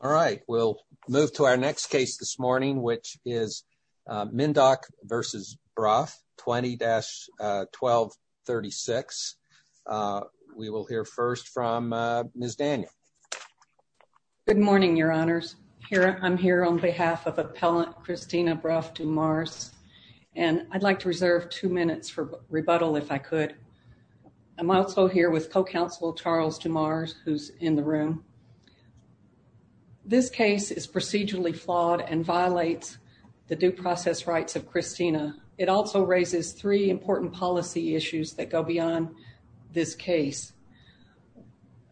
All right, we'll move to our next case this morning, which is Mindock v. Bruff, 20-1236. We will hear first from Ms. Daniel. Good morning, Your Honors. I'm here on behalf of Appellant Christina Bruff-Dumars, and I'd like to reserve two minutes for rebuttal, if I could. I'm also here with co-counsel Charles Dumars, who's in the room. This case is procedurally flawed and violates the due process rights of Christina. It also raises three important policy issues that go beyond this case.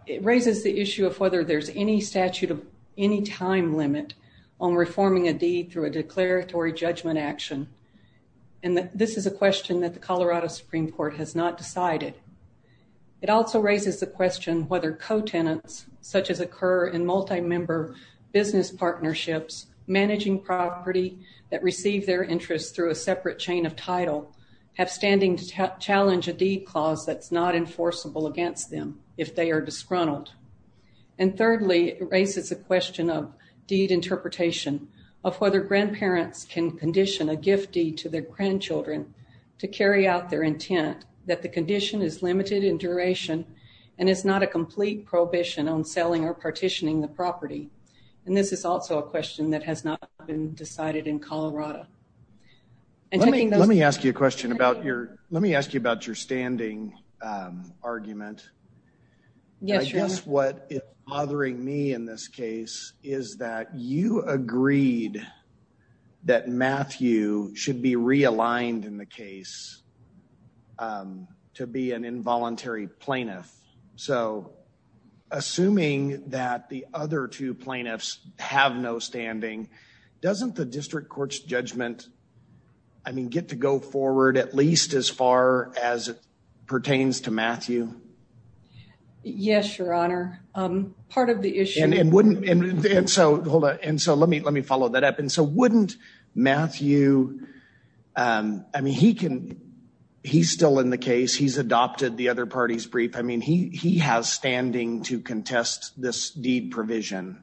It raises the issue of whether there's any statute of any time limit on reforming a deed through a declaratory judgment action. And this is a question that the Colorado Supreme Court has not decided. It also raises the question whether co-tenants, such as occur in multi-member business partnerships, managing property that receive their interest through a separate chain of title, have standing to challenge a deed clause that's not enforceable against them if they are disgruntled. And thirdly, it raises a question of deed interpretation, of whether grandparents can condition a gift deed to their grandchildren to carry out their intent, that the condition is limited in duration and is not a complete prohibition on selling or partitioning the property. And this is also a question that has not been decided in Colorado. Let me ask you a question about your, let me ask you about your standing argument. I guess what is bothering me in this case is that you agreed that Matthew should be realigned in the case to be an involuntary plaintiff. So assuming that the other two plaintiffs have no standing, doesn't the district court's judgment, I mean, get to go forward at least as far as it pertains to Yes, your honor. Part of the issue. And wouldn't, and so hold on, and so let me, let me follow that up. And so wouldn't Matthew, I mean, he can, he's still in the case, he's adopted the other party's brief. I mean, he has standing to contest this deed provision,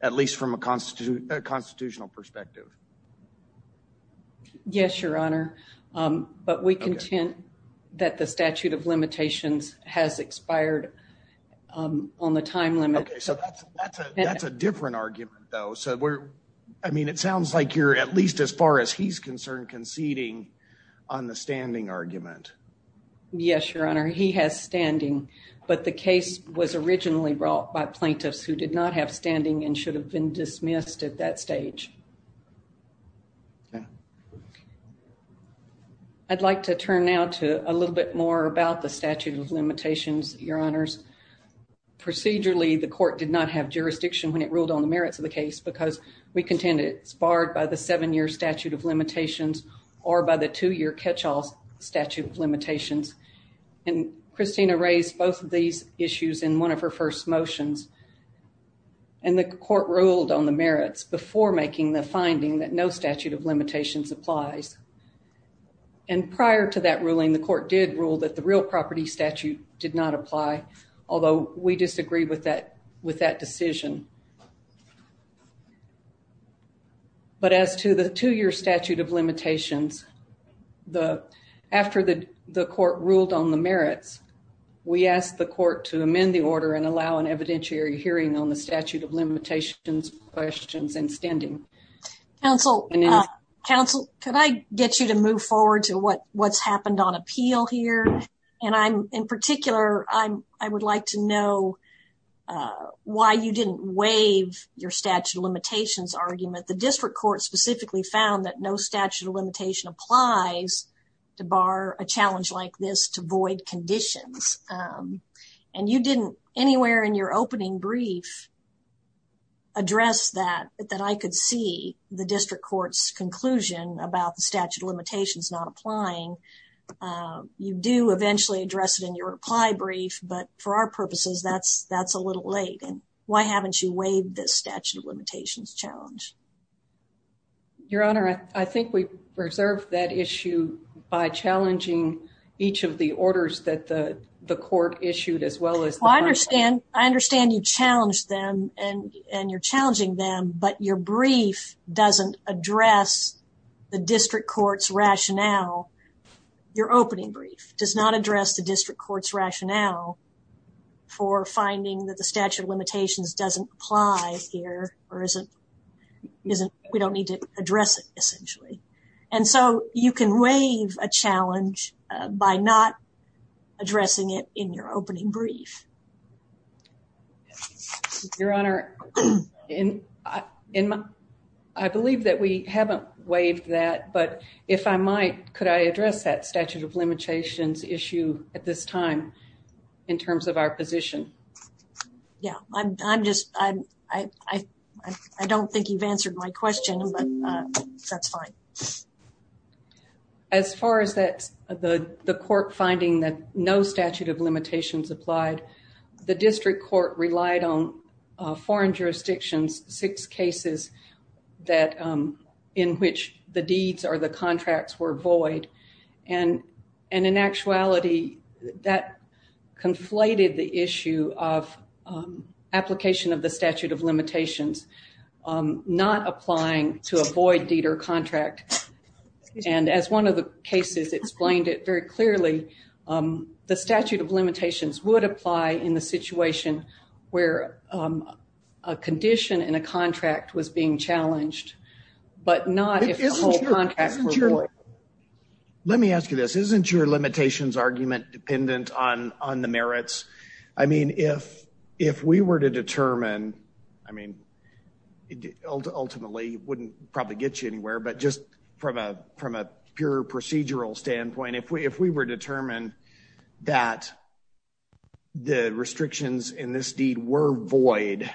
at least from a constitutional perspective. Yes, your honor. But we contend that the statute of limitations has expired on the time limit. Okay. So that's a different argument though. So we're, I mean, it sounds like you're at least as far as he's concerned conceding on the standing argument. Yes, your honor. He has standing, but the case was originally brought by plaintiffs who did not have standing and should have been dismissed at that stage. Yeah. I'd like to turn now to a little bit more about the statute of limitations, your honors. Procedurally, the court did not have jurisdiction when it ruled on the merits of the case because we contend it's barred by the seven year statute of limitations or by the two year catch-all statute of limitations. And Christina raised both of these issues in one of her first motions. And the court ruled on the merits before making the finding that no statute of limitations applies. And prior to that ruling, the court did rule that the real property statute did not apply, although we disagree with that decision. But as to the two year statute of limitations, the, after the court ruled on the merits, we asked the court to amend the order and allow an evidentiary hearing on the statute of limitations questions and standing. Counsel, could I get you to move forward to what's happened on appeal here? And I'm, in particular, I would like to know why you didn't waive your statute of limitations argument. The statute of limitations does not apply to bar a challenge like this to void conditions. And you didn't anywhere in your opening brief address that, that I could see the district court's conclusion about the statute of limitations not applying. You do eventually address it in your reply brief, but for our purposes, that's, that's a little late. And why haven't you waived this reserve that issue by challenging each of the orders that the, the court issued as well as... Well, I understand, I understand you challenged them and, and you're challenging them, but your brief doesn't address the district court's rationale. Your opening brief does not address the district court's rationale for finding that the statute of limitations doesn't apply here or isn't, isn't, we don't need to address it essentially. And so you can waive a challenge by not addressing it in your opening brief. Your Honor, in my, I believe that we haven't waived that, but if I might, could I address that statute of limitations issue at this time in terms of our position? Yeah, I'm, I'm just, I, I, I, I don't think you've answered my question, but that's fine. As far as that, the, the court finding that no statute of limitations applied, the district court relied on foreign jurisdictions, six cases that, in which the deeds or the conflated the issue of application of the statute of limitations, not applying to a void deed or contract. And as one of the cases explained it very clearly, the statute of limitations would apply in the situation where a condition in a contract was being challenged, but not... Let me ask you this. Isn't your limitations argument dependent on, on the merits? I mean, if, if we were to determine, I mean, ultimately wouldn't probably get you anywhere, but just from a, from a pure procedural standpoint, if we, if we were determined that the restrictions in this deed were void,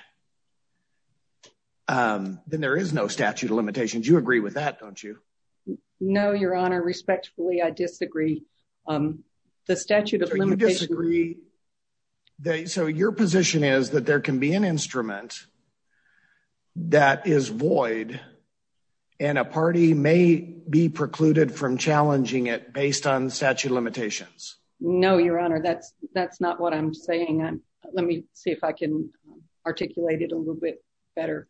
then there is no statute of limitations. You agree with that, don't you? No, your honor, respectfully, I disagree. The statute of limitations... So you disagree that, so your position is that there can be an instrument that is void and a party may be precluded from challenging it based on statute of limitations. No, your honor, that's, that's not what I'm saying. Let me see if I can articulate it a little better.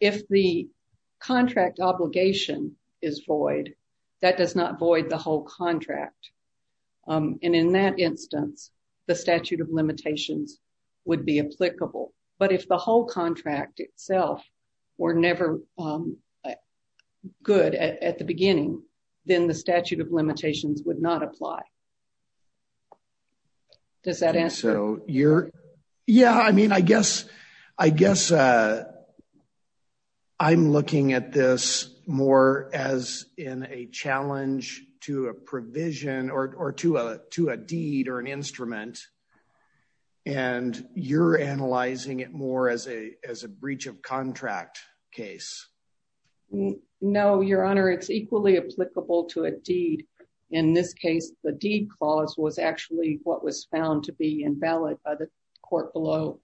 If the contract obligation is void, that does not void the whole contract. And in that instance, the statute of limitations would be applicable. But if the whole contract itself were never good at the beginning, then the statute of limitations would not apply. Does that answer? So you're... Yeah, I mean, I guess, I guess I'm looking at this more as in a challenge to a provision or to a, to a deed or an instrument, and you're analyzing it more as a, as a breach of contract case. No, your honor, it's equally applicable to a deed. In this case, the deed clause was actually what was found to be invalid by the court below.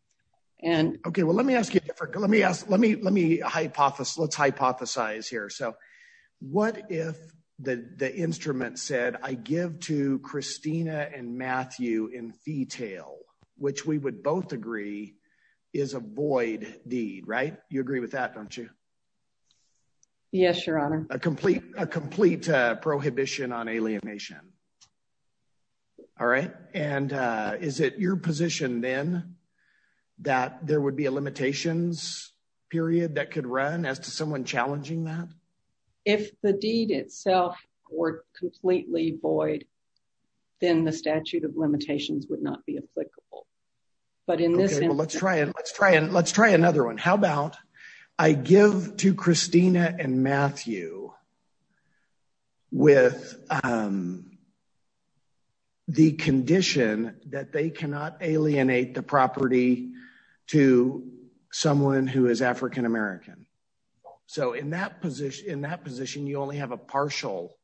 And... Okay, well, let me ask you a different, let me ask, let me, let me hypothesize, let's hypothesize here. So what if the instrument said, I give to Christina and Matthew in fetale, which we would both agree is a void deed, right? You Yes, your honor. A complete, a complete prohibition on alienation. All right. And is it your position then that there would be a limitations period that could run as to someone challenging that? If the deed itself were completely void, then the statute of limitations would not be applicable. But in this instance... Christina and Matthew with the condition that they cannot alienate the property to someone who is African American. So in that position, in that position, you only have a partial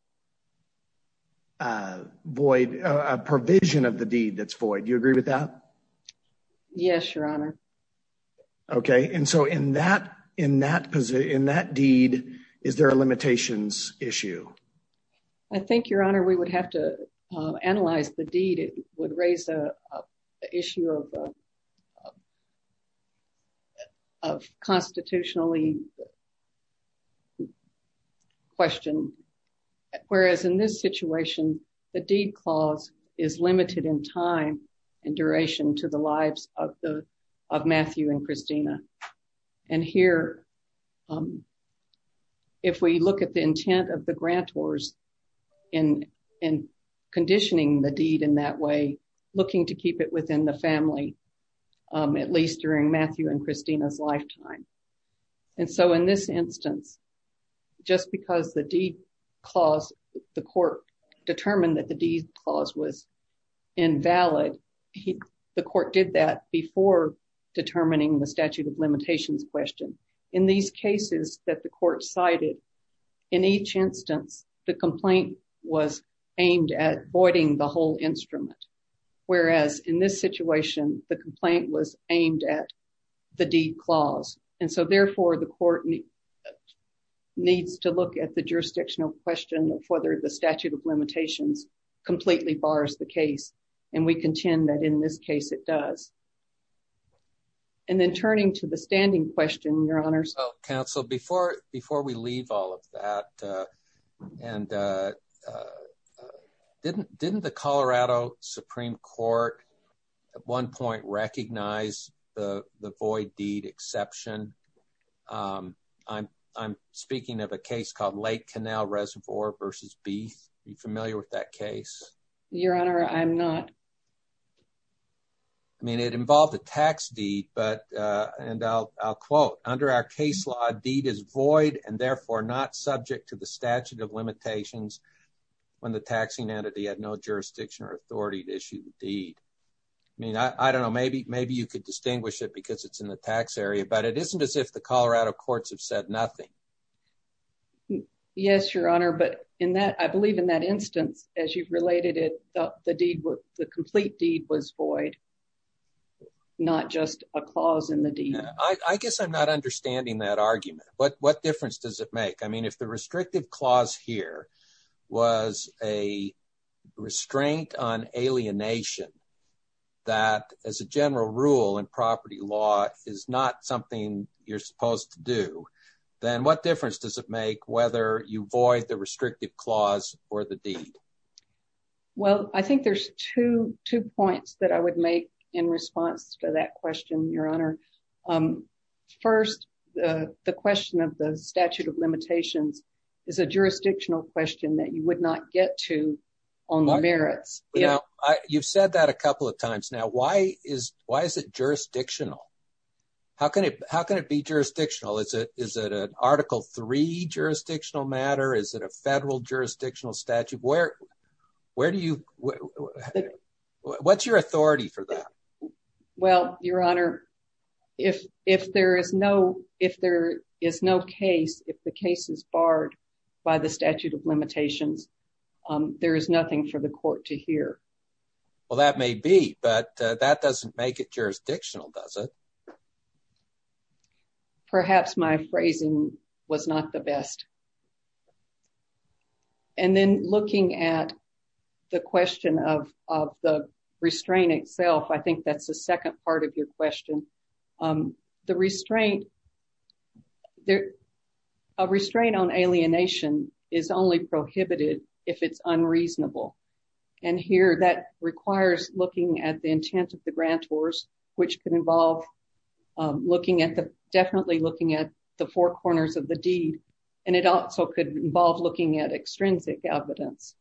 void, a provision of the deed that's void. Do you agree with that? Yes, your honor. Okay. And so in that, in that position, in that deed, is there a limitations issue? I think your honor, we would have to analyze the deed. It would raise a issue of, of constitutionally the question. Whereas in this situation, the deed clause is limited in time and duration to the lives of the, of Matthew and Christina. And here, if we look at the intent of the grantors in, in conditioning the deed in that way, looking to keep it within the family, at least during Matthew and Christina's lifetime. And so in this instance, just because the deed clause, the court determined that the deed clause was invalid, the court did that before determining the statute of limitations question. In these cases that the court cited, in each instance, the complaint was aimed at voiding the whole instrument. Whereas in this situation, the complaint was aimed at the deed clause. And so therefore the court needs to look at the jurisdictional question of whether the statute of limitations completely bars the case. And we contend that in this case it does. And then turning to the standing question, your honors. Counsel, before, before we leave all of that and didn't, didn't the Colorado Supreme Court at one point recognize the void deed exception? I'm, I'm speaking of a case called Lake Canal Reservoir versus Beath. Are you familiar with that case? Your honor, I'm not. I mean, it involved a tax deed, but, and I'll, I'll quote under our case law, deed is void and therefore not subject to the statute of limitations when the taxing entity had no jurisdiction or authority to issue the deed. I mean, I don't know, maybe, maybe you could distinguish it because it's in the tax area, but it isn't as if the Colorado courts have said nothing. Yes, your honor. But in that, I believe in that instance, as you've related it, the deed the complete deed was void, not just a clause in the deed. I guess I'm not understanding that argument, but what difference does it make? I mean, if the restrictive clause here was a restraint on alienation, that as a general rule in property law is not something you're supposed to do, then what difference does it make whether you void the restrictive clause or the deed? Well, I think there's two, two points that I would make in response to that question, your honor. First, the, the question of the statute of limitations is a jurisdictional question that you would not get to on the merits. Yeah. You've said that a couple of times now, why is, why is it jurisdictional? How can it, how can it be jurisdictional? Is it, is it an jurisdictional matter? Is it a federal jurisdictional statute? Where, where do you, what's your authority for that? Well, your honor, if, if there is no, if there is no case, if the case is barred by the statute of limitations, there is nothing for the court to hear. Well, that may be, but that doesn't make it jurisdictional, does it? Perhaps my phrasing was not the best. And then looking at the question of, of the restraint itself, I think that's the second part of your question. The restraint, there, a restraint on alienation is only prohibited if it's unreasonable. And here, that requires looking at the intent of the grantors, which can involve looking at the, definitely looking at the four corners of the deed. And it also could involve looking at extrinsic evidence.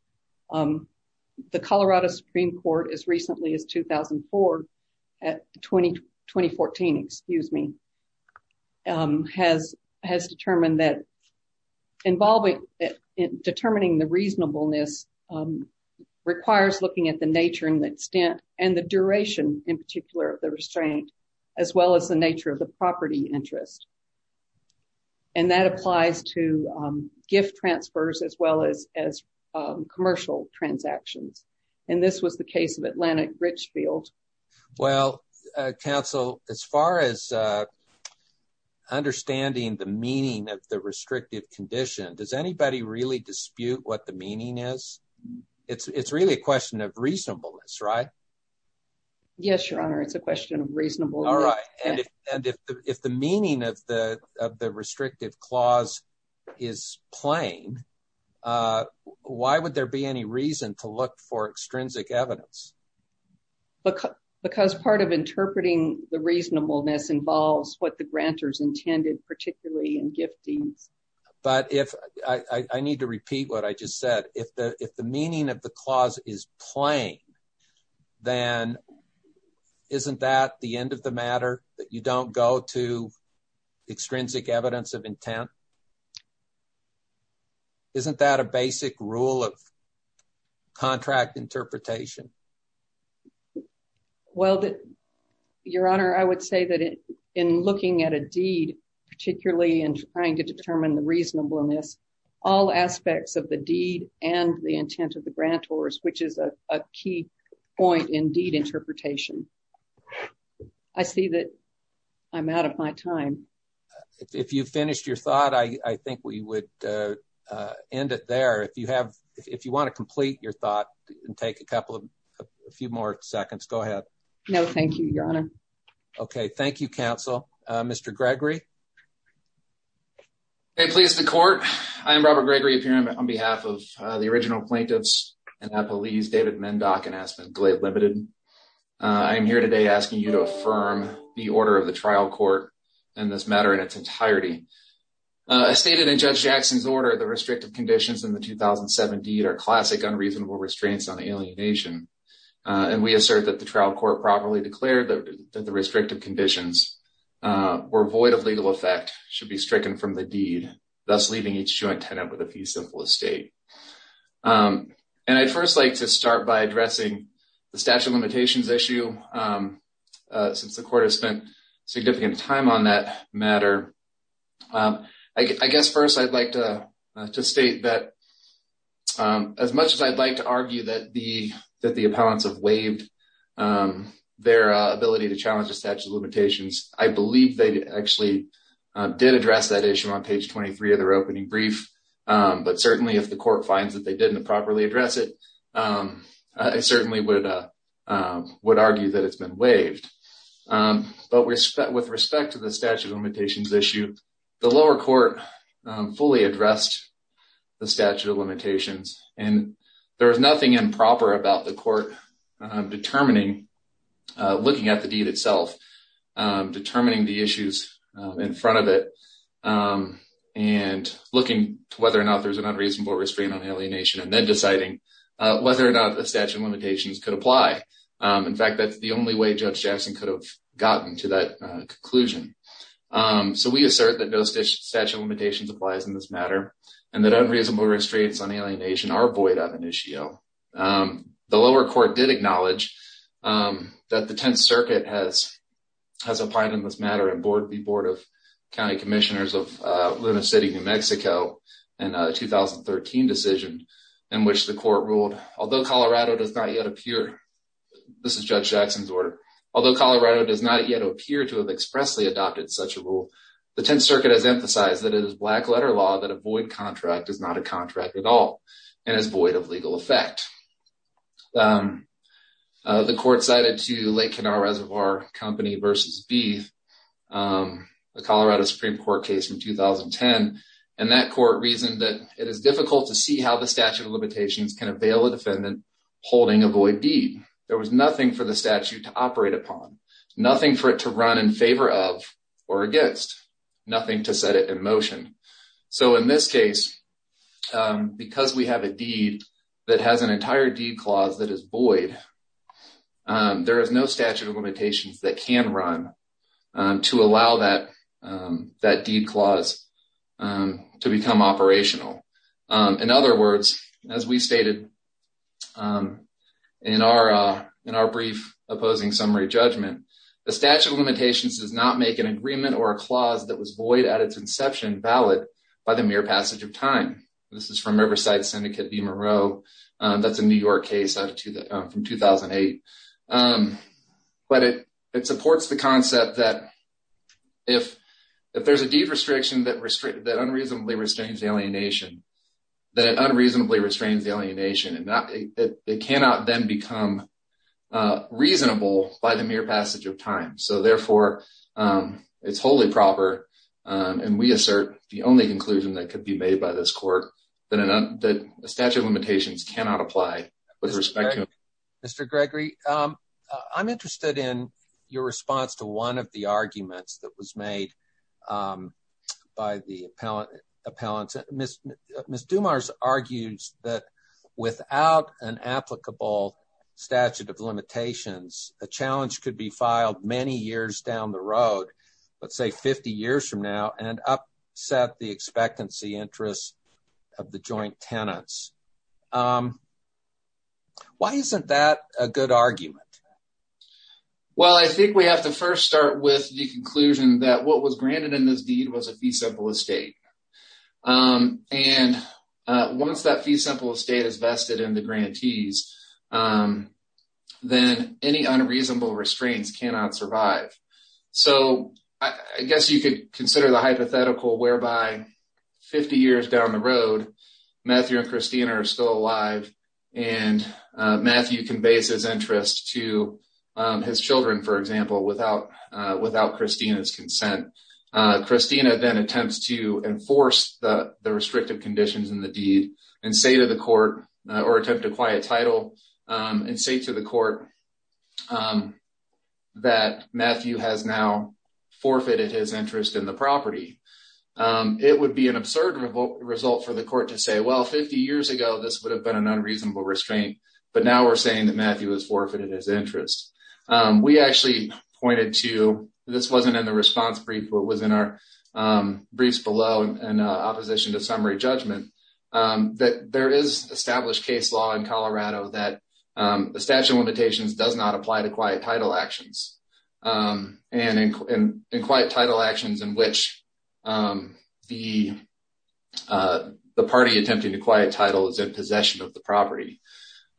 The Colorado Supreme Court as recently as 2004, 2014, excuse me, has, has determined that involving, determining the reasonableness requires looking at the nature and the extent and the duration in particular of the restraint, as well as the nature of the property interest. And that applies to gift transfers as well as, as commercial transactions. And this was the case of Atlantic Richfield. Well, counsel, as far as understanding the meaning of the restrictive condition, does anybody really dispute what the meaning is? It's, it's really a question of reasonableness, right? Yes, your honor. It's a question of reasonable. All right. And if, and if, if the meaning of the, of the restrictive clause is plain, why would there be any reason to look for extrinsic evidence? Because part of interpreting the reasonableness involves what the grantors intended, particularly in gift deeds. But if I need to repeat what I just said, if the, if the meaning of the clause is plain, then isn't that the end of the matter that you don't go to extrinsic evidence of intent? Isn't that a basic rule of contract interpretation? Well, your honor, I would say that in looking at a deed, particularly in trying to determine the reasonableness, all aspects of the deed and the intent of the grantors, which is a key point in deed interpretation. I see that I'm out of my time. If you finished your thought, I think we would end it there. If you have, if you want to complete your thought and take a couple of a few more seconds, go ahead. No, thank you, your honor. Okay. Thank you. Council. Mr. Gregory. Hey, please. The court. I am Robert Gregory appearing on behalf of the original plaintiffs and that police David Mendock and Aspen Glade limited. I'm here today asking you to affirm the order of the trial court and this matter in its entirety. I stated in judge Jackson's order, the restrictive conditions in the 2007 deed are classic unreasonable restraints on alienation. And we assert that the trial court properly declared that the restrictive conditions were void of legal effect should be stricken from the deed, thus leaving each joint tenant with a fee simple estate. And I'd first like to start by addressing the statute of limitations issue since the court has spent significant time on that matter. I guess first I'd like to state that, um, as much as I'd like to argue that the, that the appellants have waived, um, their ability to challenge the statute of limitations. I believe they actually did address that issue on page 23 of their opening brief. Um, but certainly if the court finds that they didn't properly address it, um, I certainly would, uh, um, would argue that it's been waived. Um, but with respect to the statute of limitations issue, the lower court, um, fully addressed the statute of limitations and there was nothing improper about the court, um, determining, uh, looking at the deed itself, um, determining the issues in front of it, um, and looking to whether or not there's an unreasonable restraint on alienation and then deciding, uh, whether or not the statute of limitations could apply. Um, in fact, that's only way Judge Jackson could have gotten to that, uh, conclusion. Um, so we assert that no statute of limitations applies in this matter and that unreasonable restraints on alienation are void of initio. Um, the lower court did acknowledge, um, that the 10th circuit has, has applied in this matter and board, the board of county commissioners of, uh, Luna City, New Mexico in a 2013 decision in which the court ruled, although Colorado does not yet appear, this is Judge Jackson's order. Although Colorado does not yet appear to have expressly adopted such a rule, the 10th circuit has emphasized that it is black letter law that a void contract is not a contract at all and is void of legal effect. Um, uh, the court cited to Lake Kenau Reservoir Company versus Beef, um, the Colorado Supreme Court case from 2010 and that court reasoned that it is difficult to see how the statute of limitations can avail a defendant holding a void deed. There was nothing for the statute to operate upon, nothing for it to run in favor of or against, nothing to set it in motion. So in this case, um, because we have a deed that has an entire deed clause that is void, um, there is no statute of limitations that can run, um, to allow that, um, that deed clause, um, to become operational. Um, in other words, as we stated, um, in our, uh, in our brief opposing summary judgment, the statute of limitations does not make an agreement or a clause that was void at its inception valid by the mere passage of time. This is from Riverside Syndicate, Beamer Row. Um, that's a New York case out of 2008. Um, but it, it supports the concept that if, if there's a deed restriction that unreasonably restrains alienation, that it unreasonably restrains alienation and not, it, it cannot then become, uh, reasonable by the mere passage of time. So therefore, um, it's wholly proper, um, and we assert the only conclusion that could be made by this court that a statute of limitations cannot apply. Mr. Gregory, um, I'm interested in your response to one of the arguments that was made, um, by the appellant, appellant. Ms. Dumars argues that without an applicable statute of limitations, a challenge could be filed many years down the road, let's say 50 years from now, and upset the expectancy interests of the joint tenants. Um, why isn't that a good argument? Well, I think we have to first start with the conclusion that what was granted in this deed was a fee simple estate. Um, and, uh, once that fee simple estate is vested in the grantees, um, then any unreasonable restraints cannot survive. So I guess you could consider the hypothetical whereby 50 years down the road, Matthew and Christina are still alive and, uh, Matthew conveys his interest to, um, his children, for example, without, uh, without Christina's consent. Uh, Christina then attempts to enforce the, the restrictive conditions in the deed and say to the court, uh, or attempt to quiet title, um, and say to the court, um, that Matthew has now forfeited his interest in the property. Um, it would be an unreasonable restraint, but now we're saying that Matthew has forfeited his interest. Um, we actually pointed to, this wasn't in the response brief, but it was in our, um, briefs below in opposition to summary judgment, um, that there is established case law in Colorado that, um, the statute of limitations does not apply to quiet title actions. Um, and in quiet title actions in which, um, the, uh, the party attempting to quiet title is in possession of the property.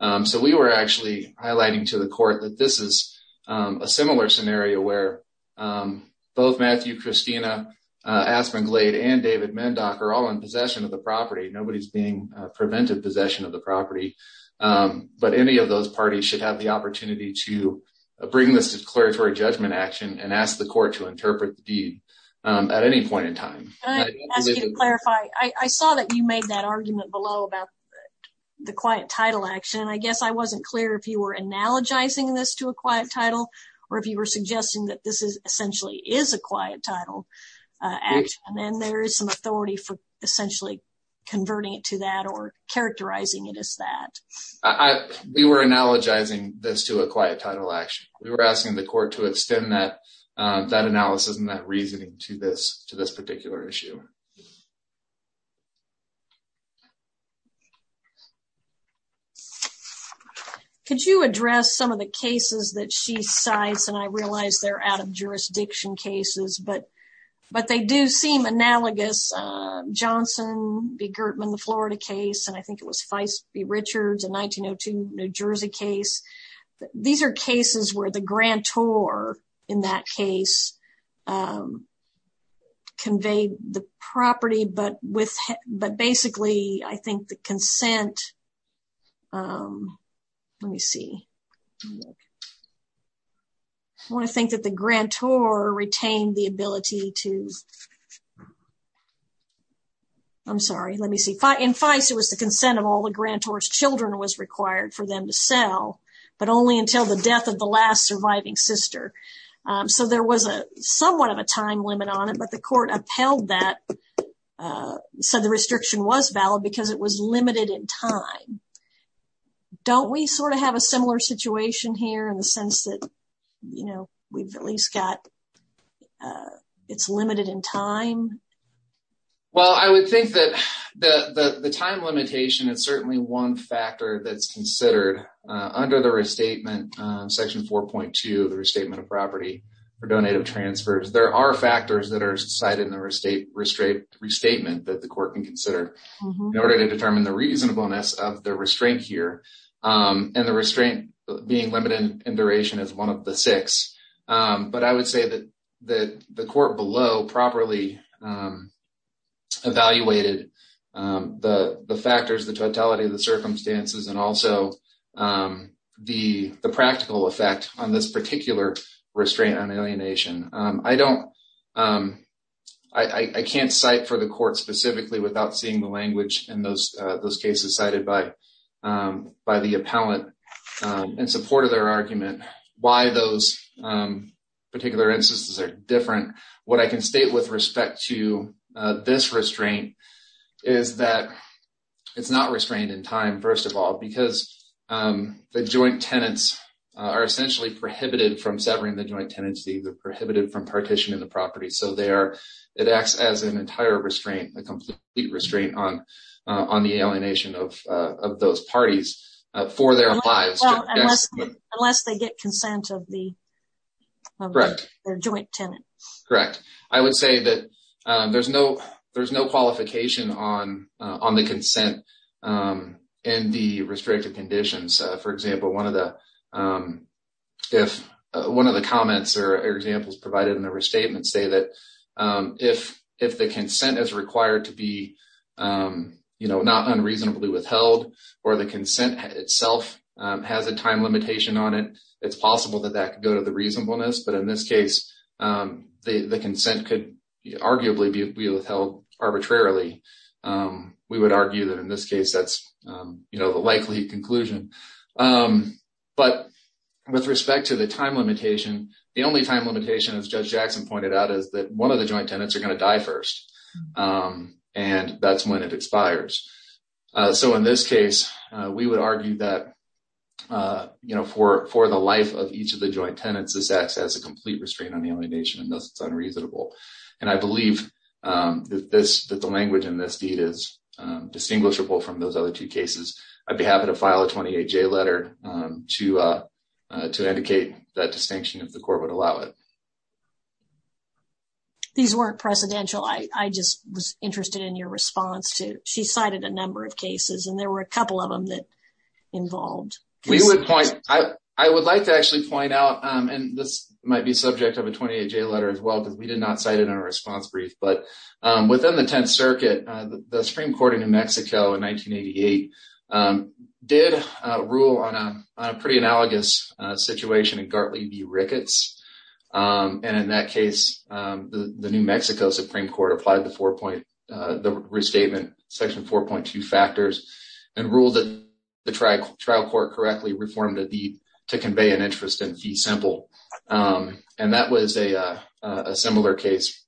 Um, so we were actually highlighting to the court that this is, um, a similar scenario where, um, both Matthew, Christina, uh, Aspen Glade and David Mendock are all in possession of the property. Nobody's being, uh, prevented possession of the property. Um, but any of those parties should have the opportunity to bring this declaratory judgment action and ask the court to interpret the deed, um, at any point in time. I'd like to ask you to clarify. I saw that you made that argument below about the quiet title action, and I guess I wasn't clear if you were analogizing this to a quiet title or if you were suggesting that this is essentially is a quiet title, uh, action, and there is some authority for essentially converting it to that or characterizing it as that. I, we were analogizing this to a quiet title action. We were asking the court to extend that, um, that analysis and that reasoning to this, to this particular issue. Could you address some of the cases that she cites, and I realize they're out of jurisdiction cases, but, but they do seem analogous. Uh, Johnson v. Gertman, the Florida case, and I think it was Feist v. Richards, a 1902 New Jersey case. These are cases where the grantor, in that case, um, conveyed the property, but with, but basically I think the consent, um, let me see, I want to think that the grantor retained the ability to, I'm sorry, let me see, in Feist it was the consent of all the grantor's children was sister. Um, so there was a somewhat of a time limit on it, but the court upheld that, uh, said the restriction was valid because it was limited in time. Don't we sort of have a similar situation here in the sense that, you know, we've at least got, uh, it's limited in time? Well, I would think that the, the, the time limitation is certainly one factor that's the reasonableness of the restraint here. Um, and the restraint being limited in duration is one of the six. Um, but I would say that, that the court below properly, um, evaluated, um, the, the practical effect on this particular restraint on alienation. Um, I don't, um, I, I can't cite for the court specifically without seeing the language in those, uh, those cases cited by, um, by the appellant, um, in support of their argument, why those, um, particular instances are different. What I can state with respect to, uh, this restraint is that it's not restrained in time, first of all, because, um, the joint tenants, uh, are essentially prohibited from severing the joint tenancy. They're prohibited from partitioning the property. So they are, it acts as an entire restraint, a complete restraint on, uh, on the alienation of, uh, of those parties, uh, for their lives. Unless they get consent of the, of their joint tenant. Correct. I would say that, um, there's no, there's no qualification on, uh, on the consent, um, and the restricted conditions. Uh, for example, one of the, um, if one of the comments or examples provided in the restatement say that, um, if, if the consent is required to be, um, you know, not unreasonably withheld or the consent itself, um, has a time limitation on it, it's possible that that could go to the reasonableness, but in this case, um, the, that's, um, you know, the likely conclusion. Um, but with respect to the time limitation, the only time limitation as judge Jackson pointed out is that one of the joint tenants are going to die first. Um, and that's when it expires. Uh, so in this case, uh, we would argue that, uh, you know, for, for the life of each of the joint tenants, this acts as a complete restraint on the alienation and thus it's unreasonable. And I believe, um, that this, that the language in this deed is, um, distinguishable from those other two cases. I'd be happy to file a 28-J letter, um, to, uh, uh, to indicate that distinction if the court would allow it. These weren't precedential. I, I just was interested in your response to, she cited a number of cases and there were a couple of them that involved. We would point, I, I would like to actually point out, um, and this might be subject of a 28-J letter as well, because we did not cite it in our response brief, but, um, within the 10th circuit, uh, the Supreme Court in New Mexico in 1988, um, did, uh, rule on a, on a pretty analogous, uh, situation in Gartley v. Ricketts. Um, and in that case, um, the New Mexico Supreme Court applied the four point, uh, the restatement section 4.2 factors and ruled that the trial court correctly reformed a deed to convey an interest in fee simple. Um, and that was a, uh, a similar case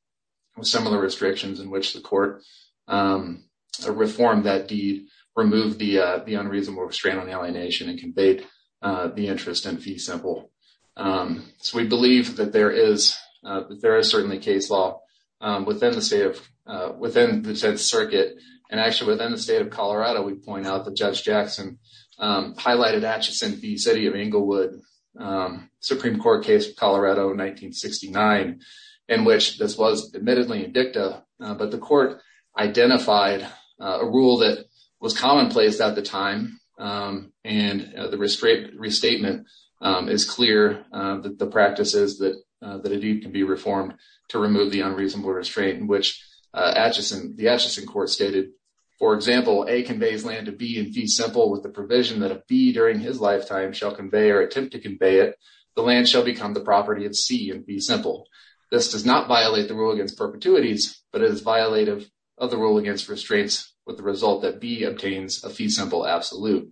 with similar restrictions in which the court, um, reformed that deed, removed the, uh, the unreasonable restraint on alienation and conveyed, uh, the interest in fee simple. Um, so we believe that there is, uh, that there is certainly case law, um, within the state of, uh, within the 10th circuit and actually within the state of Colorado, we point out that Judge Jackson, um, highlighted Atchison v. City of Englewood, um, Supreme Court case Colorado in 1969, in which this was admittedly a dicta, uh, but the court identified, uh, a rule that was commonplaced at the time, um, and, uh, the restraint, restatement, um, is clear, uh, that the practice is that, uh, that a deed can be reformed to remove the unreasonable restraint in which, uh, Atchison, the Atchison court stated, for example, A conveys land to B in fee simple with the provision that a B during his lifetime shall convey or attempt to convey it, the land shall become the property of C in fee simple. This does not violate the rule against perpetuities, but it is violative of the rule against restraints with the result that B obtains a fee simple absolute.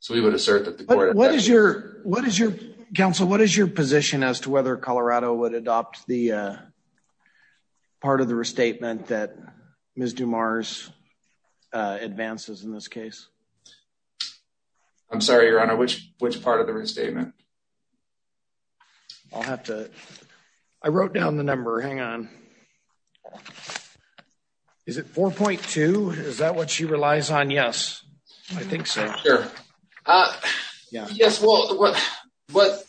So we would assert that the court- What is your, what is your, counsel, what is your position as to whether Colorado would adopt the, uh, part of the restatement that Ms. Dumars, uh, advances in this case? I'm sorry, Your Honor, which, which part of the restatement? I'll have to, I wrote down the number. Hang on. Is it 4.2? Is that what she relies on? Yes, I think so. Sure. Uh, yes. Well, what,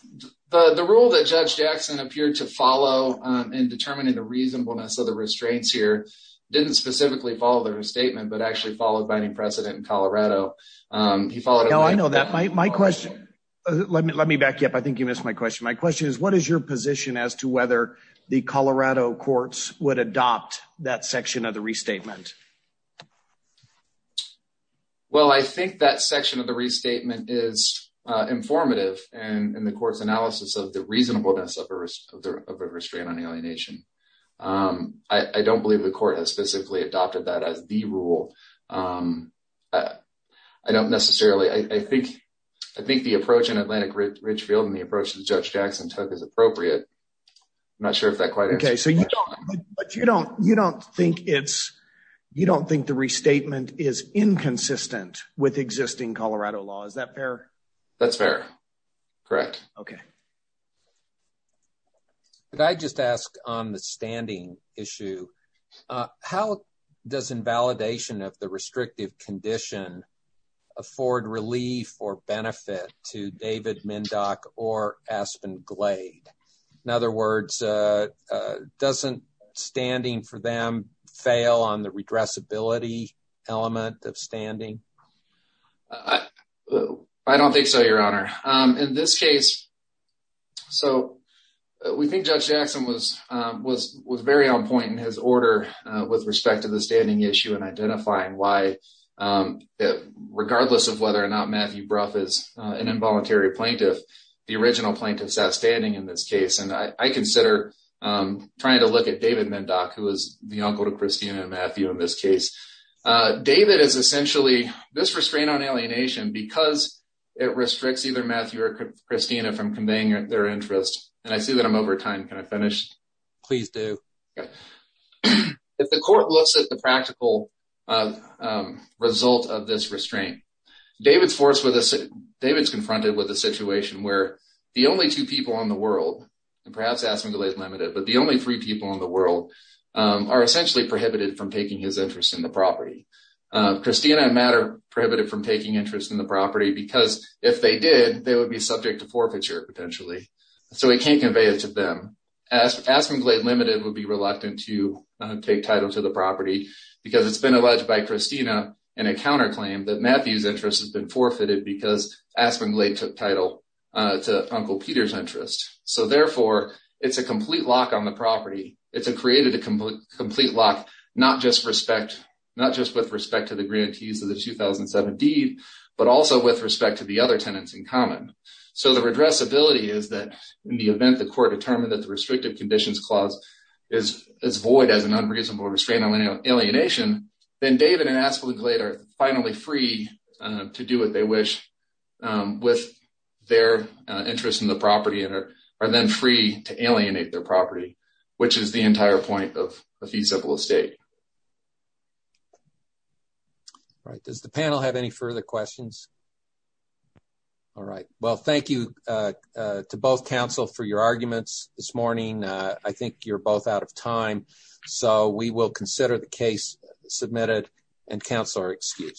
the rule that Judge Jackson appeared to follow, um, in determining the reasonableness of the restraints here didn't specifically follow the restatement, but actually followed by any precedent in Colorado. Um, he followed- No, I know that. My, my question, let me, let me back you up. I think you missed my question. My question is what is your position as to whether the Colorado courts would adopt that section of the restatement? Well, I think that section of the restatement is, uh, informative and in the court's analysis of the reasonableness of a, of a restraint on alienation. Um, I, I don't believe the court has specifically adopted that as the rule. Um, uh, I don't necessarily, I, I think, I think the approach in Atlantic Ridgefield and the approach that Judge Jackson took is appropriate. I'm not sure if that quite answers your question. Okay, so you don't, but you don't, you don't think it's, you don't think the restatement is inconsistent with existing Colorado law. Is that fair? That's fair. Correct. Okay. Could I just ask on the standing issue, uh, how does invalidation of the restrictive condition afford relief or benefit to David Mindock or Aspen Glade? In other words, uh, uh, doesn't standing for them fail on the redressability element of standing? I, I don't think so, Your Honor. Um, in this case, so we think Judge Jackson was, um, was, was very on point in his order, uh, with respect to the standing issue and identifying why, um, regardless of whether or not Matthew Brough is an involuntary plaintiff, the original plaintiff in this case. And I, I consider, um, trying to look at David Mindock, who was the uncle to Christina and Matthew in this case. Uh, David is essentially this restraint on alienation because it restricts either Matthew or Christina from conveying their interests. And I see that I'm over time. Can I finish? Please do. If the court looks at the practical, um, um, result of this world, perhaps Aspen Glade Limited, but the only three people in the world, um, are essentially prohibited from taking his interest in the property. Uh, Christina and Matt are prohibited from taking interest in the property because if they did, they would be subject to forfeiture potentially. So we can't convey it to them. Aspen Glade Limited would be reluctant to take title to the property because it's been alleged by Christina and a counterclaim that Aspen Glade took title, uh, to Uncle Peter's interest. So therefore it's a complete lock on the property. It's a created a complete lock, not just respect, not just with respect to the grantees of the 2007 deed, but also with respect to the other tenants in common. So the redressability is that in the event, the court determined that the restrictive conditions clause is, is void as an unreasonable restraint on alienation. Then David and Aspen Glade are finally free, to do what they wish, um, with their interest in the property and are then free to alienate their property, which is the entire point of a feasible estate. All right. Does the panel have any further questions? All right. Well, thank you, uh, uh, to both counsel for your arguments this morning. Uh, I think you're both out of time, so we will consider the case submitted and counsel are excused.